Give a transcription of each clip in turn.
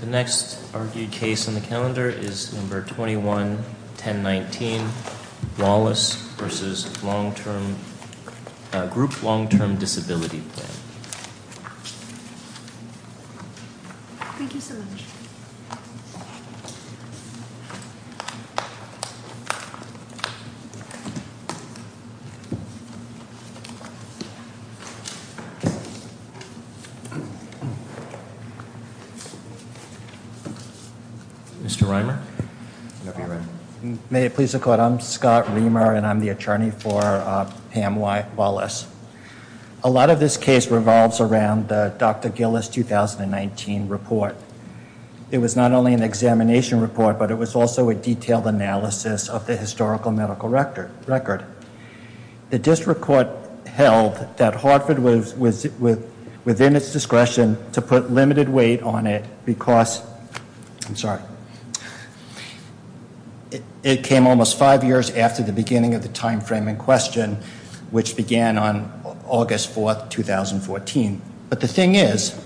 The next argued case on the calendar is number 21-1019, Wallace v. Group Long Term Disability Plan Mr. Reimer. May it please the court, I'm Scott Reimer and I'm the attorney for Pam Wallace. A lot of this case revolves around the Dr. Gillis 2019 report. It was not only an examination report, but it was also a detailed analysis of the historical medical record. The district court held that Hartford was within its discretion to put limited weight on it because, I'm sorry, it came almost five years after the beginning of the time frame in question, which began on August 4, 2014. But the thing is,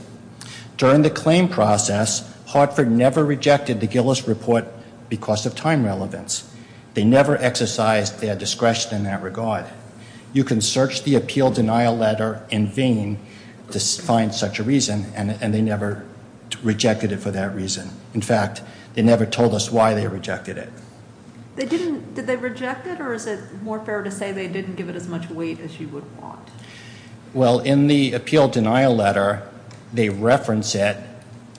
during the claim process, Hartford never rejected the Gillis report because of time relevance. They never exercised their discretion in that regard. You can search the appeal denial letter in vain to find such a reason, and they never rejected it for that reason. In fact, they never told us why they rejected it. Did they reject it, or is it more fair to say they didn't give it as much weight as you would want? Well, in the appeal denial letter, they reference it,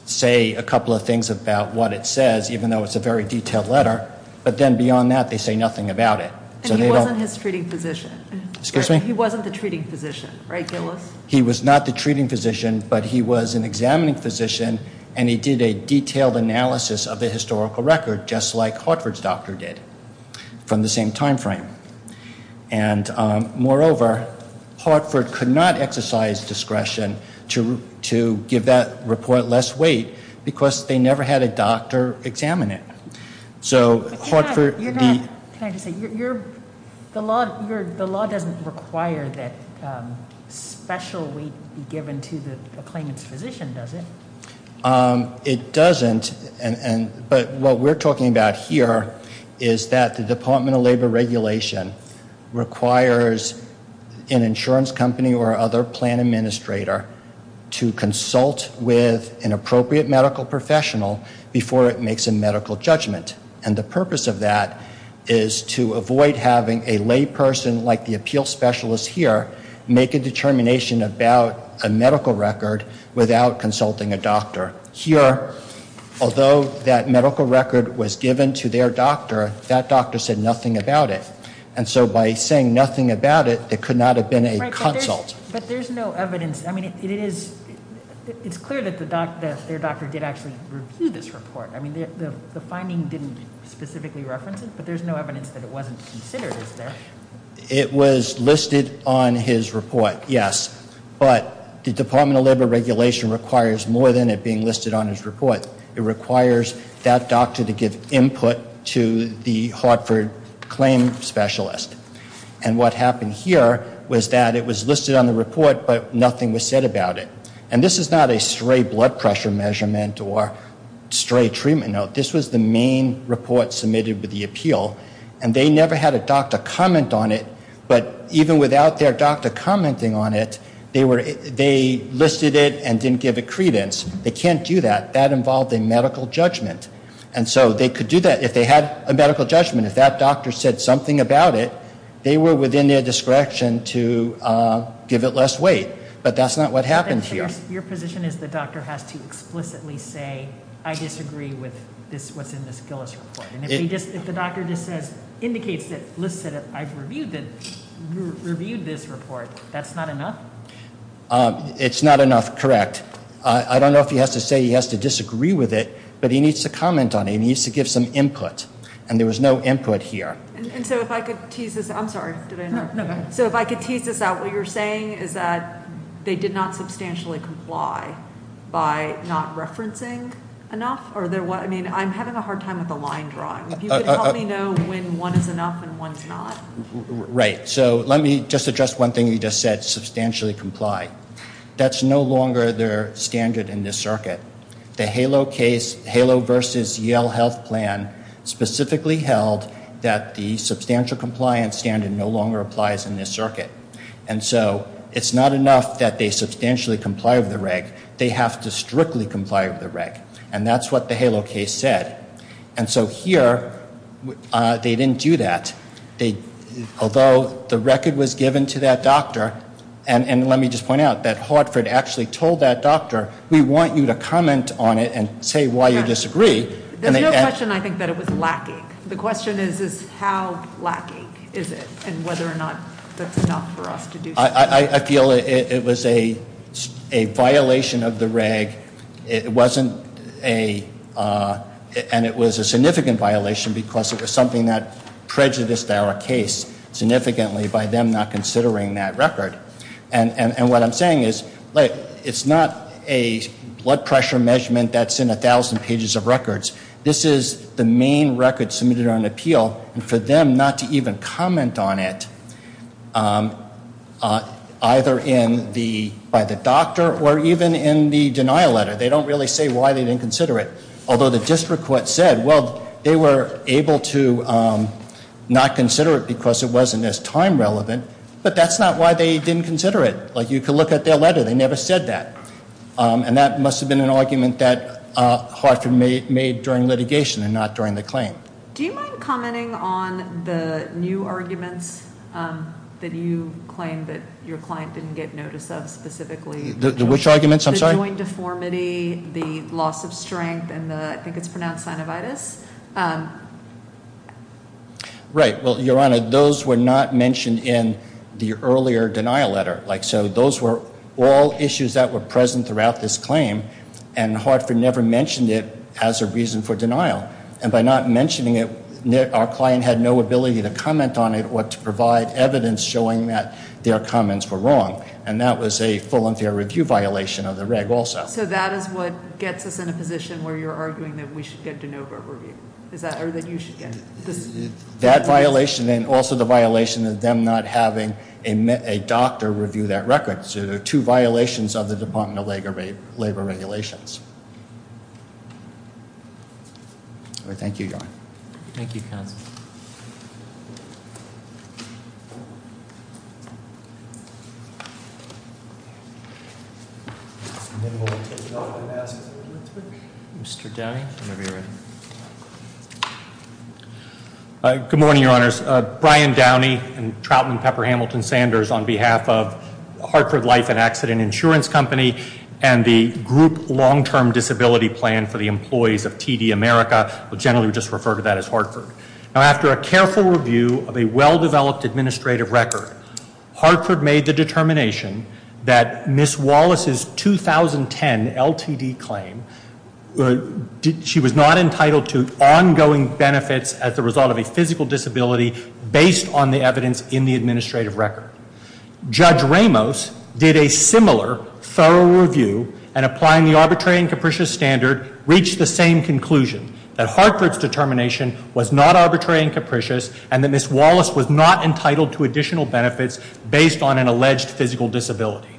say a couple of things about what it says, even though it's a very detailed letter, but then beyond that, they say nothing about it. And he wasn't his treating physician? Excuse me? He wasn't the treating physician, right, Gillis? He was not the treating physician, but he was an examining physician, and he did a detailed analysis of the historical record, just like Hartford's doctor did from the same time frame. And moreover, Hartford could not exercise discretion to give that report less weight because they never had a doctor examine it. So Hartford— Can I just say, the law doesn't require that special weight be given to the claimant's physician, does it? It doesn't, but what we're talking about here is that the Department of Labor regulation requires an insurance company or other plan administrator to consult with an appropriate medical professional before it makes a medical judgment. And the purpose of that is to avoid having a layperson like the appeal specialist here make a determination about a medical record without consulting a doctor. Here, although that medical record was given to their doctor, that doctor said nothing about it. And so by saying nothing about it, it could not have been a consult. But there's no evidence. I mean, it's clear that their doctor did actually review this report. I mean, the finding didn't specifically reference it, but there's no evidence that it wasn't considered, is there? It was listed on his report, yes. But the Department of Labor regulation requires more than it being listed on his report. It requires that doctor to give input to the Hartford claim specialist. And what happened here was that it was listed on the report, but nothing was said about it. And this is not a stray blood pressure measurement or stray treatment note. This was the main report submitted with the appeal. And they never had a doctor comment on it, but even without their doctor commenting on it, they listed it and didn't give it credence. They can't do that. That involved a medical judgment. And so they could do that if they had a medical judgment. If that doctor said something about it, they were within their discretion to give it less weight. But that's not what happened here. Your position is the doctor has to explicitly say, I disagree with what's in this Gillis report. And if the doctor just says, indicates that I've reviewed this report, that's not enough? It's not enough, correct. I don't know if he has to say he has to disagree with it, but he needs to comment on it. He needs to give some input. And there was no input here. And so if I could tease this out, what you're saying is that they did not substantially comply by not referencing enough? I mean, I'm having a hard time with the line drawing. If you could help me know when one is enough and one is not. Right. So let me just address one thing you just said, substantially comply. That's no longer their standard in this circuit. The HALO case, HALO versus Yale Health Plan, specifically held that the substantial compliance standard no longer applies in this circuit. And so it's not enough that they substantially comply with the reg. They have to strictly comply with the reg. And that's what the HALO case said. And so here, they didn't do that. Although the record was given to that doctor, and let me just point out that Hartford actually told that doctor, we want you to comment on it and say why you disagree. There's no question, I think, that it was lacking. The question is how lacking is it and whether or not that's enough for us to do something. I feel it was a violation of the reg. And it was a significant violation because it was something that prejudiced our case significantly by them not considering that record. And what I'm saying is it's not a blood pressure measurement that's in 1,000 pages of records. This is the main record submitted on appeal. And for them not to even comment on it, either by the doctor or even in the denial letter, they don't really say why they didn't consider it. Although the district court said, well, they were able to not consider it because it wasn't as time relevant. But that's not why they didn't consider it. Like, you could look at their letter. They never said that. And that must have been an argument that Hartford made during litigation and not during the claim. Do you mind commenting on the new arguments that you claim that your client didn't get notice of specifically? Which arguments? I'm sorry? The joint deformity, the loss of strength, and the, I think it's pronounced synovitis. Right. Well, Your Honor, those were not mentioned in the earlier denial letter. Like, so those were all issues that were present throughout this claim. And Hartford never mentioned it as a reason for denial. And by not mentioning it, our client had no ability to comment on it or to provide evidence showing that their comments were wrong. And that was a full and fair review violation of the reg also. So that is what gets us in a position where you're arguing that we should get de novo review. Or that you should get it. That violation and also the violation of them not having a doctor review that record. So there are two violations of the Department of Labor regulations. Thank you, Your Honor. Thank you, Counsel. Good morning, Your Honors. Brian Downey and Troutman Pepper Hamilton Sanders on behalf of Hartford Life and Accident Insurance Company and the Group Long-Term Disability Plan for the Employees of TD America. We'll generally just refer to that as Hartford. Now, after a careful review of a well-developed administrative record, Hartford made the determination that Ms. Wallace's 2010 LTD claim, she was not entitled to ongoing benefits as a result of a physical disability based on the evidence in the administrative record. Judge Ramos did a similar thorough review and applying the arbitrary and capricious standard reached the same conclusion that Hartford's determination was not arbitrary and capricious and that Ms. Wallace was not entitled to additional benefits based on an alleged physical disability.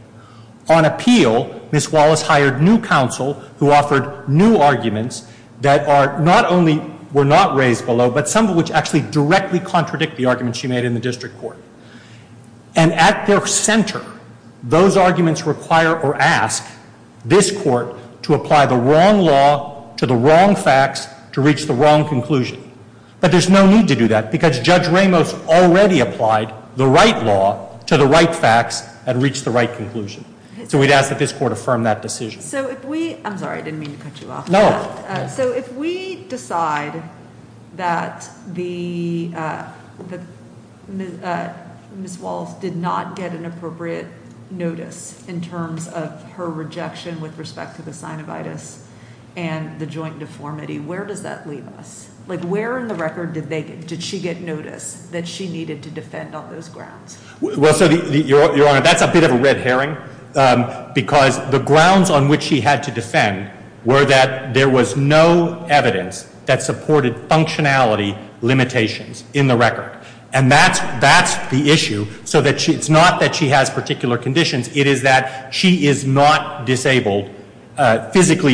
On appeal, Ms. Wallace hired new counsel who offered new arguments that not only were not raised below, but some of which actually directly contradict the arguments she made in the district court. And at their center, those arguments require or ask this court to apply the wrong law to the wrong facts to reach the wrong conclusion. But there's no need to do that because Judge Ramos already applied the right law to the right facts and reached the right conclusion. So we'd ask that this court affirm that decision. So if we – I'm sorry, I didn't mean to cut you off. No. So if we decide that Ms. Wallace did not get an appropriate notice in terms of her rejection with respect to the synovitis and the joint deformity, where does that leave us? Like where in the record did she get notice that she needed to defend on those grounds? Well, so Your Honor, that's a bit of a red herring because the grounds on which she had to defend were that there was no evidence that supported functionality limitations in the record. And that's the issue. So it's not that she has particular conditions. It is that she is not physically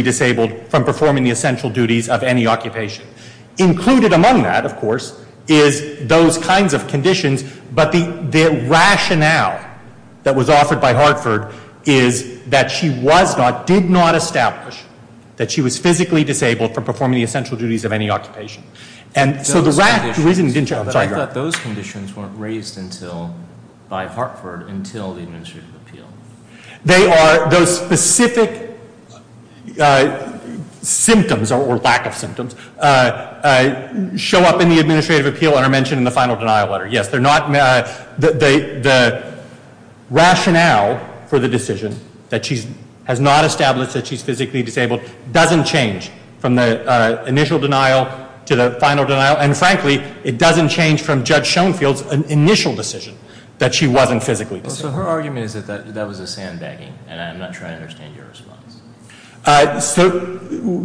disabled from performing the essential duties of any occupation. Included among that, of course, is those kinds of conditions. But the rationale that was offered by Hartford is that she was not – did not establish that she was physically disabled from performing the essential duties of any occupation. And so the rationale – Those conditions – I'm sorry, Your Honor. I thought those conditions weren't raised until – by Hartford until the administrative appeal. They are – those specific symptoms or lack of symptoms show up in the administrative appeal and are mentioned in the final denial letter. Yes, they're not – the rationale for the decision that she has not established that she's physically disabled doesn't change from the initial denial to the final denial. And frankly, it doesn't change from Judge Schoenfield's initial decision that she wasn't physically disabled. So her argument is that that was a sandbagging, and I'm not sure I understand your response. So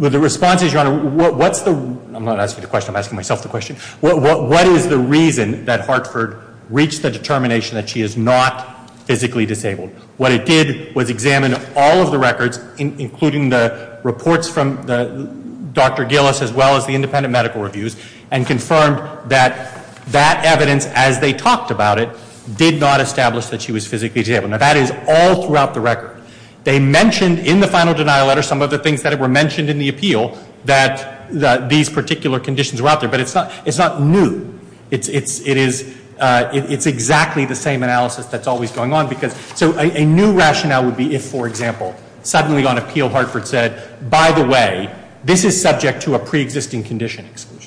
the response is, Your Honor, what's the – I'm not asking the question. I'm asking myself the question. What is the reason that Hartford reached the determination that she is not physically disabled? What it did was examine all of the records, including the reports from Dr. Gillis as well as the independent medical reviews, and confirmed that that evidence, as they talked about it, did not establish that she was physically disabled. Now, that is all throughout the record. They mentioned in the final denial letter some of the things that were mentioned in the appeal that these particular conditions were out there. But it's not new. It's exactly the same analysis that's always going on because – so a new rationale would be if, for example, suddenly on appeal Hartford said, by the way, this is subject to a preexisting condition exclusion.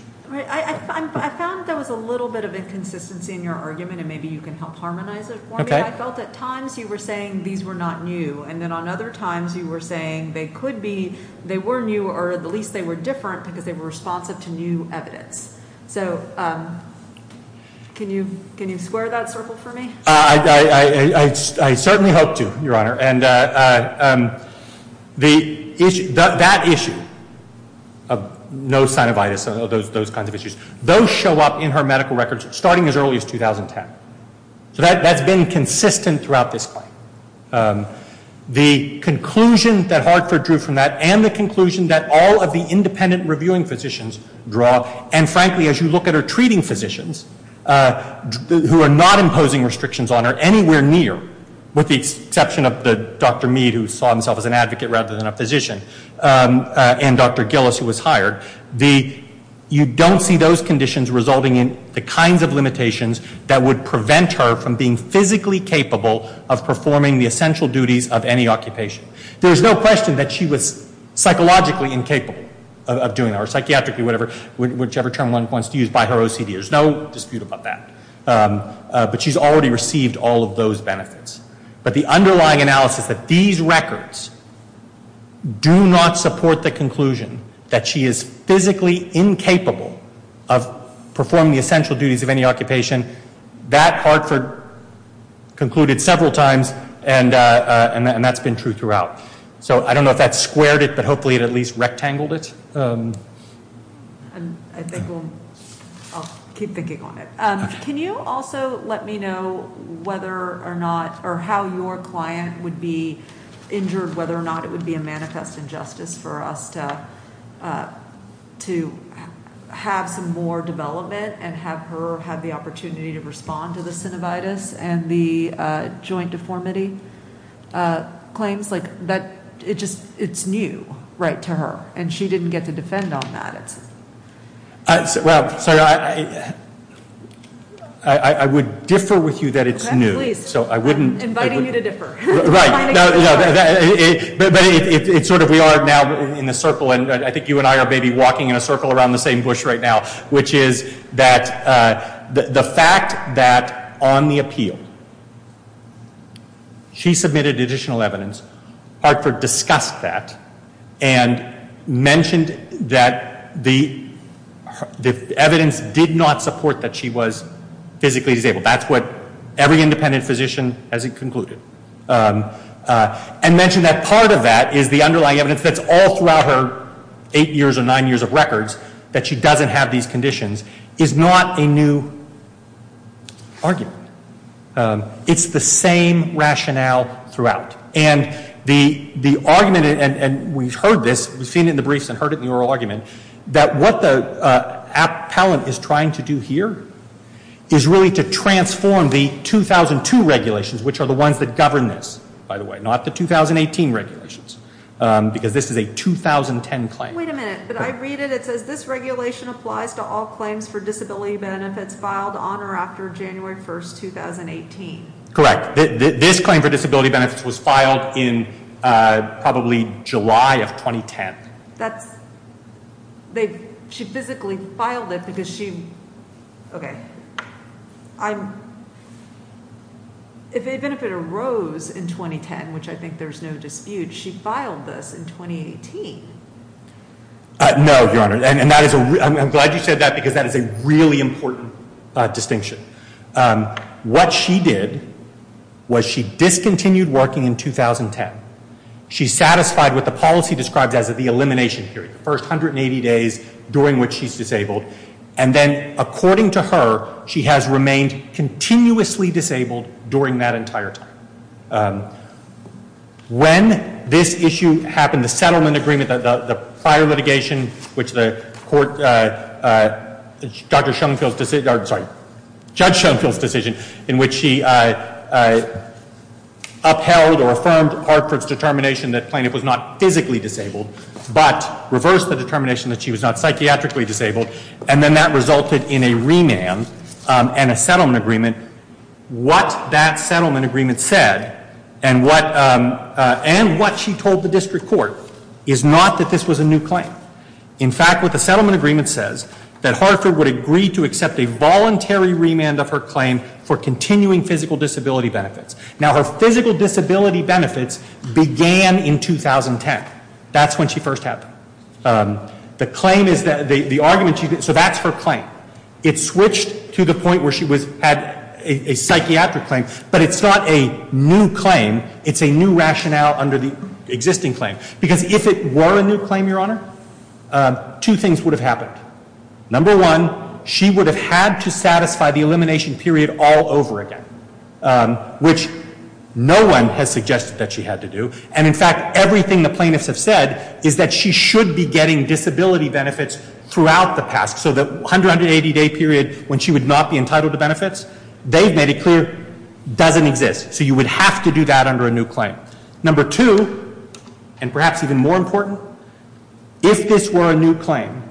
I found there was a little bit of inconsistency in your argument, and maybe you can help harmonize it for me. I felt at times you were saying these were not new, and then on other times you were saying they could be. They were new, or at least they were different because they were responsive to new evidence. So can you square that circle for me? I certainly hope to, Your Honor. And that issue of no synovitis, those kinds of issues, those show up in her medical records starting as early as 2010. So that's been consistent throughout this claim. The conclusion that Hartford drew from that and the conclusion that all of the independent reviewing physicians draw, and frankly, as you look at her treating physicians who are not imposing restrictions on her anywhere near, with the exception of Dr. Mead, who saw himself as an advocate rather than a physician, and Dr. Gillis, who was hired, you don't see those conditions resulting in the kinds of limitations that would prevent her from being physically capable of performing the essential duties of any occupation. There's no question that she was psychologically incapable of doing that, or psychiatrically, whichever term one wants to use, by her OCD. There's no dispute about that. But she's already received all of those benefits. But the underlying analysis that these records do not support the conclusion that she is physically incapable of performing the essential duties of any occupation, that Hartford concluded several times, and that's been true throughout. So I don't know if that squared it, but hopefully it at least rectangled it. I think I'll keep thinking on it. Can you also let me know whether or not, whether or not it would be a manifest injustice for us to have some more development and have her have the opportunity to respond to the synovitis and the joint deformity claims? Like, it's new, right, to her, and she didn't get to defend on that. Well, Sarah, I would differ with you that it's new. Please, I'm inviting you to differ. But it's sort of we are now in a circle, and I think you and I are maybe walking in a circle around the same bush right now, which is that the fact that on the appeal she submitted additional evidence, Hartford discussed that and mentioned that the evidence did not support that she was physically disabled. That's what every independent physician has concluded, and mentioned that part of that is the underlying evidence that's all throughout her eight years or nine years of records that she doesn't have these conditions is not a new argument. It's the same rationale throughout. And the argument, and we've heard this, we've seen it in the briefs and heard it in the oral argument, that what the appellant is trying to do here is really to transform the 2002 regulations, which are the ones that govern this, by the way, not the 2018 regulations, because this is a 2010 claim. Wait a minute. But I read it. It says this regulation applies to all claims for disability benefits filed on or after January 1, 2018. Correct. This claim for disability benefits was filed in probably July of 2010. She physically filed it because she, okay. Even if it arose in 2010, which I think there's no dispute, she filed this in 2018. No, Your Honor, and I'm glad you said that because that is a really important distinction. What she did was she discontinued working in 2010. She's satisfied with the policy described as the elimination period, the first 180 days during which she's disabled. And then, according to her, she has remained continuously disabled during that entire time. When this issue happened, the settlement agreement, the prior litigation, which the court, Dr. Schoenfeld's decision, sorry, Judge Schoenfeld's decision, in which she upheld or affirmed Hartford's determination that Plaintiff was not physically disabled, but reversed the determination that she was not psychiatrically disabled, and then that resulted in a remand and a settlement agreement. What that settlement agreement said and what she told the district court is not that this was a new claim. In fact, what the settlement agreement says, that Hartford would agree to accept a voluntary remand of her claim for continuing physical disability benefits. Now, her physical disability benefits began in 2010. That's when she first had them. The claim is that, the argument, so that's her claim. It switched to the point where she had a psychiatric claim, but it's not a new claim. It's a new rationale under the existing claim. Because if it were a new claim, Your Honor, two things would have happened. Number one, she would have had to satisfy the elimination period all over again, which no one has suggested that she had to do. And, in fact, everything the plaintiffs have said is that she should be getting disability benefits throughout the past. So the 180-day period when she would not be entitled to benefits, they've made it clear, doesn't exist. So you would have to do that under a new claim. Number two, and perhaps even more important, if this were a new claim,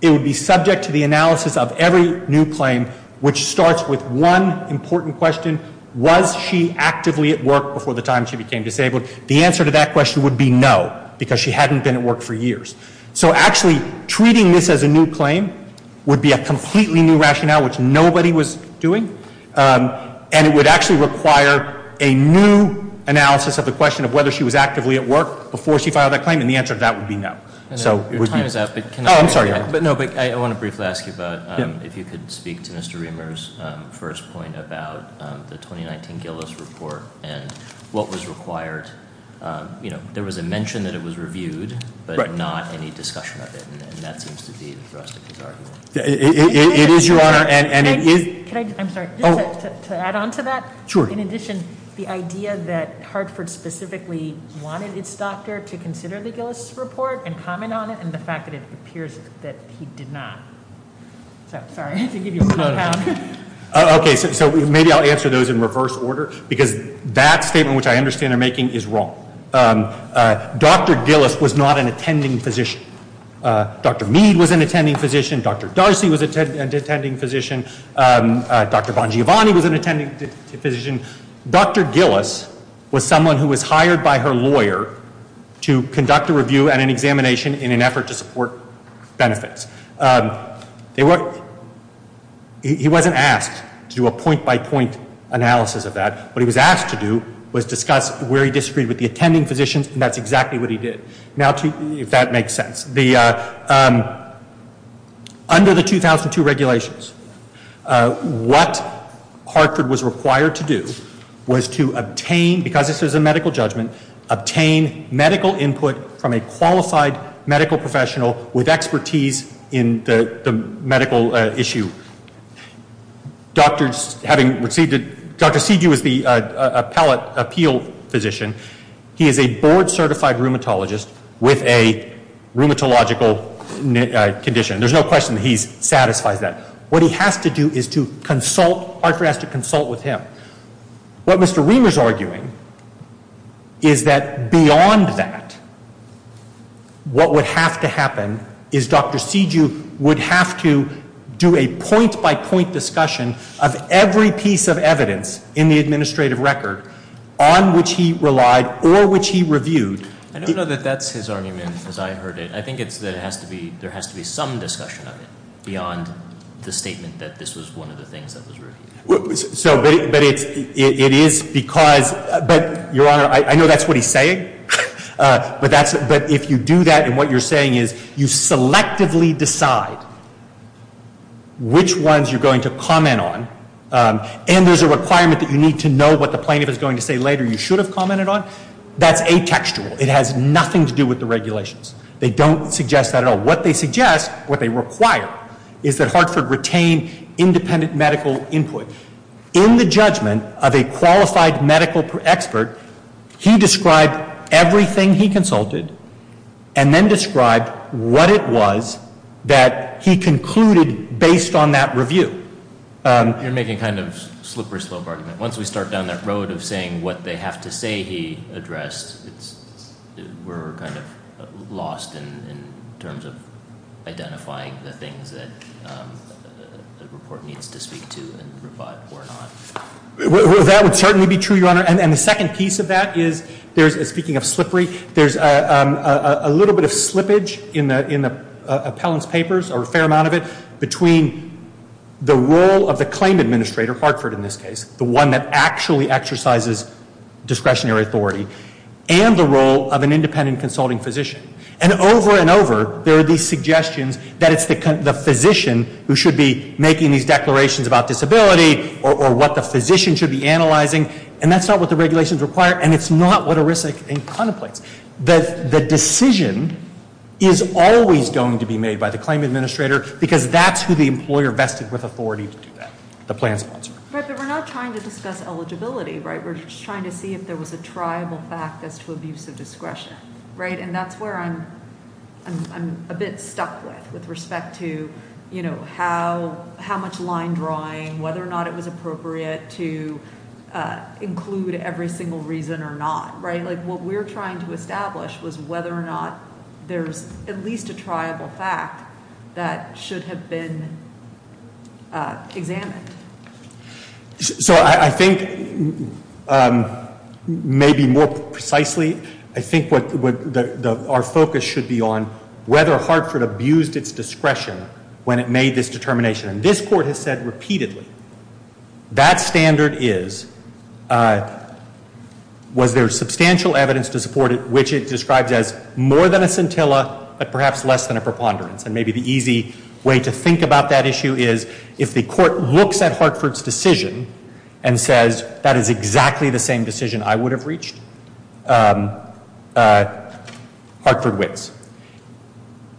it would be subject to the analysis of every new claim, which starts with one important question. Was she actively at work before the time she became disabled? The answer to that question would be no, because she hadn't been at work for years. So, actually, treating this as a new claim would be a completely new rationale, which nobody was doing. And it would actually require a new analysis of the question of whether she was actively at work before she filed that claim. And the answer to that would be no. So it would be- Your time is up, but can I- Oh, I'm sorry, Your Honor. No, but I want to briefly ask you about if you could speak to Mr. Reamer's first point about the 2019 Gillis report and what was required. You know, there was a mention that it was reviewed, but not any discussion of it. And that seems to be the thrust of his argument. It is, Your Honor, and it is- I'm sorry, just to add on to that. Sure. In addition, the idea that Hartford specifically wanted its doctor to consider the Gillis report and comment on it and the fact that it appears that he did not. So, sorry, to give you a compound. Okay, so maybe I'll answer those in reverse order, because that statement, which I understand they're making, is wrong. Dr. Gillis was not an attending physician. Dr. Mead was an attending physician. Dr. Darcy was an attending physician. Dr. Bongiovanni was an attending physician. Dr. Gillis was someone who was hired by her lawyer to conduct a review and an examination in an effort to support benefits. He wasn't asked to do a point-by-point analysis of that. What he was asked to do was discuss where he disagreed with the attending physicians, and that's exactly what he did. If that makes sense. Under the 2002 regulations, what Hartford was required to do was to obtain, because this is a medical judgment, obtain medical input from a qualified medical professional with expertise in the medical issue. Dr. Siju is the appellate appeal physician. He is a board-certified rheumatologist with a rheumatological condition. There's no question that he satisfies that. What he has to do is to consult, Hartford has to consult with him. What Mr. Reamer is arguing is that beyond that, what would have to happen is Dr. Siju would have to do a point-by-point discussion of every piece of evidence in the administrative record on which he relied or which he reviewed. I don't know that that's his argument as I heard it. I think it's that there has to be some discussion of it beyond the statement that this was one of the things that was reviewed. But it is because, but Your Honor, I know that's what he's saying, but if you do that and what you're saying is you selectively decide which ones you're going to comment on and there's a requirement that you need to know what the plaintiff is going to say later you should have commented on, that's atextual. It has nothing to do with the regulations. They don't suggest that at all. What they suggest, what they require is that Hartford retain independent medical input. In the judgment of a qualified medical expert, he described everything he consulted and then described what it was that he concluded based on that review. You're making kind of a slippery slope argument. Once we start down that road of saying what they have to say he addressed, we're kind of lost in terms of identifying the things that the report needs to speak to and provide or not. That would certainly be true, Your Honor. And the second piece of that is there's, speaking of slippery, there's a little bit of slippage in the appellant's papers, or a fair amount of it, between the role of the claim administrator, Hartford in this case, the one that actually exercises discretionary authority, and the role of an independent consulting physician. And over and over, there are these suggestions that it's the physician who should be making these declarations about disability or what the physician should be analyzing and that's not what the regulations require and it's not what ERISA contemplates. The decision is always going to be made by the claim administrator because that's who the employer vested with authority to do that, the plan sponsor. But we're not trying to discuss eligibility, right? We're just trying to see if there was a triable fact as to abuse of discretion, right? And that's where I'm a bit stuck with, with respect to, you know, how much line drawing, whether or not it was appropriate to include every single reason or not, right? Like what we're trying to establish was whether or not there's at least a triable fact that should have been examined. So I think maybe more precisely, I think what our focus should be on whether Hartford abused its discretion when it made this determination. And this Court has said repeatedly that standard is, was there substantial evidence to support it, which it describes as more than a scintilla but perhaps less than a preponderance. And maybe the easy way to think about that issue is if the Court looks at Hartford's decision and says that is exactly the same decision I would have reached, Hartford wins.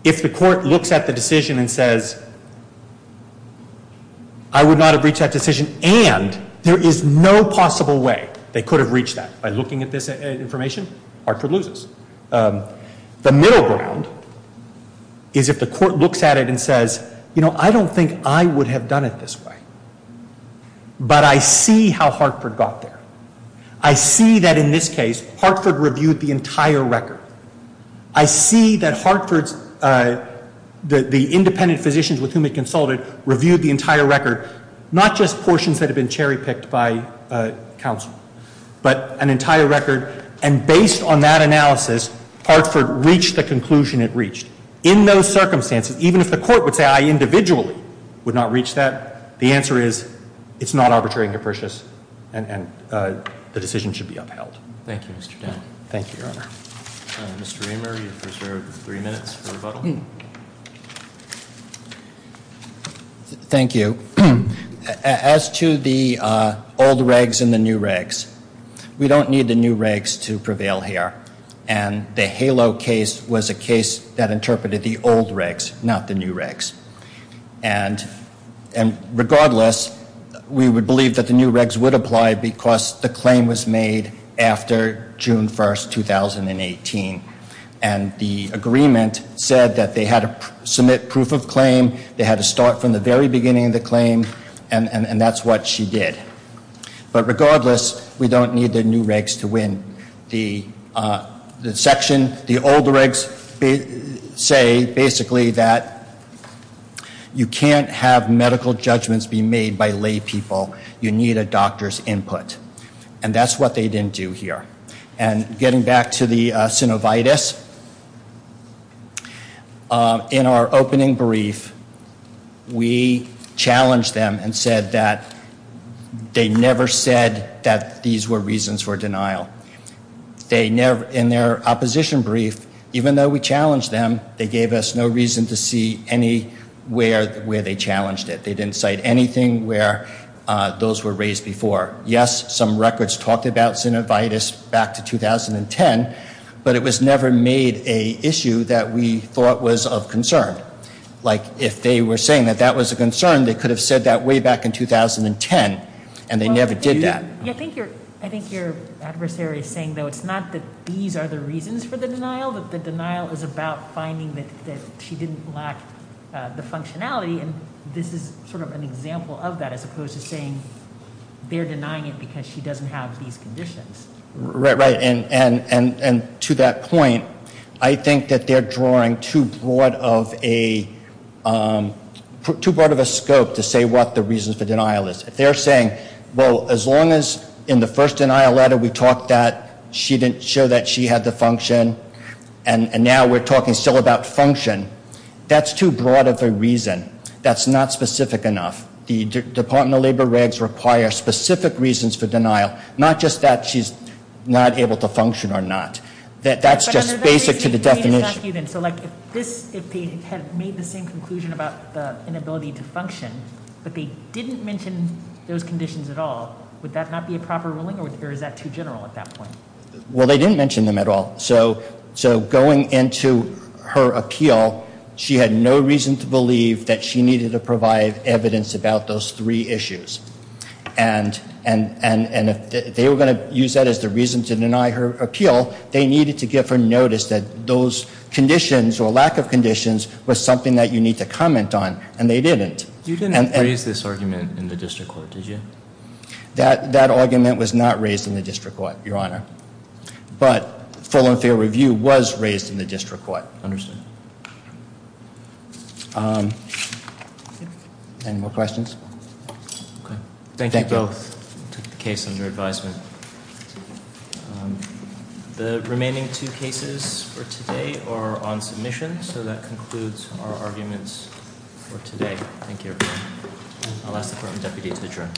If the Court looks at the decision and says I would not have reached that decision and there is no possible way they could have reached that by looking at this information, Hartford loses. The middle ground is if the Court looks at it and says, you know, I don't think I would have done it this way. But I see how Hartford got there. I see that in this case Hartford reviewed the entire record. I see that Hartford's, the independent physicians with whom he consulted reviewed the entire record, not just portions that have been cherry picked by counsel, but an entire record. And based on that analysis, Hartford reached the conclusion it reached. In those circumstances, even if the Court would say I individually would not reach that, the answer is it's not arbitrary and capricious and the decision should be upheld. Thank you, Your Honor. Mr. Reamer, you're preserved three minutes for rebuttal. Thank you. As to the old regs and the new regs, we don't need the new regs to prevail here. And the HALO case was a case that interpreted the old regs, not the new regs. And regardless, we would believe that the new regs would apply because the claim was made after June 1, 2018. And the agreement said that they had to submit proof of claim, they had to start from the very beginning of the claim, and that's what she did. But regardless, we don't need the new regs to win. The section, the old regs say basically that you can't have medical judgments be made by lay people. You need a doctor's input. And that's what they didn't do here. And getting back to the synovitis, in our opening brief, we challenged them and said that they never said that these were reasons for denial. In their opposition brief, even though we challenged them, they gave us no reason to see anywhere where they challenged it. They didn't cite anything where those were raised before. Yes, some records talked about synovitis back to 2010, but it was never made an issue that we thought was of concern. Like, if they were saying that that was a concern, they could have said that way back in 2010, and they never did that. I think your adversary is saying, though, it's not that these are the reasons for the denial, that the denial is about finding that she didn't lack the functionality, and this is sort of an example of that as opposed to saying they're denying it because she doesn't have these conditions. Right, right. And to that point, I think that they're drawing too broad of a scope to say what the reason for denial is. If they're saying, well, as long as in the first denial letter we talked that she didn't show that she had the function, and now we're talking still about function, that's too broad of a reason. That's not specific enough. The Department of Labor regs require specific reasons for denial, not just that she's not able to function or not. That's just basic to the definition. So, like, if they had made the same conclusion about the inability to function, but they didn't mention those conditions at all, would that not be a proper ruling, or is that too general at that point? Well, they didn't mention them at all. So going into her appeal, she had no reason to believe that she needed to provide evidence about those three issues. And if they were going to use that as the reason to deny her appeal, they needed to give her notice that those conditions or lack of conditions was something that you need to comment on, and they didn't. You didn't raise this argument in the district court, did you? That argument was not raised in the district court, Your Honor. But full and fair review was raised in the district court. Understood. Any more questions? Okay. Thank you both. Took the case under advisement. The remaining two cases for today are on submission, so that concludes our arguments for today. Thank you. I'll ask the current deputy to adjourn. I will stand adjourned.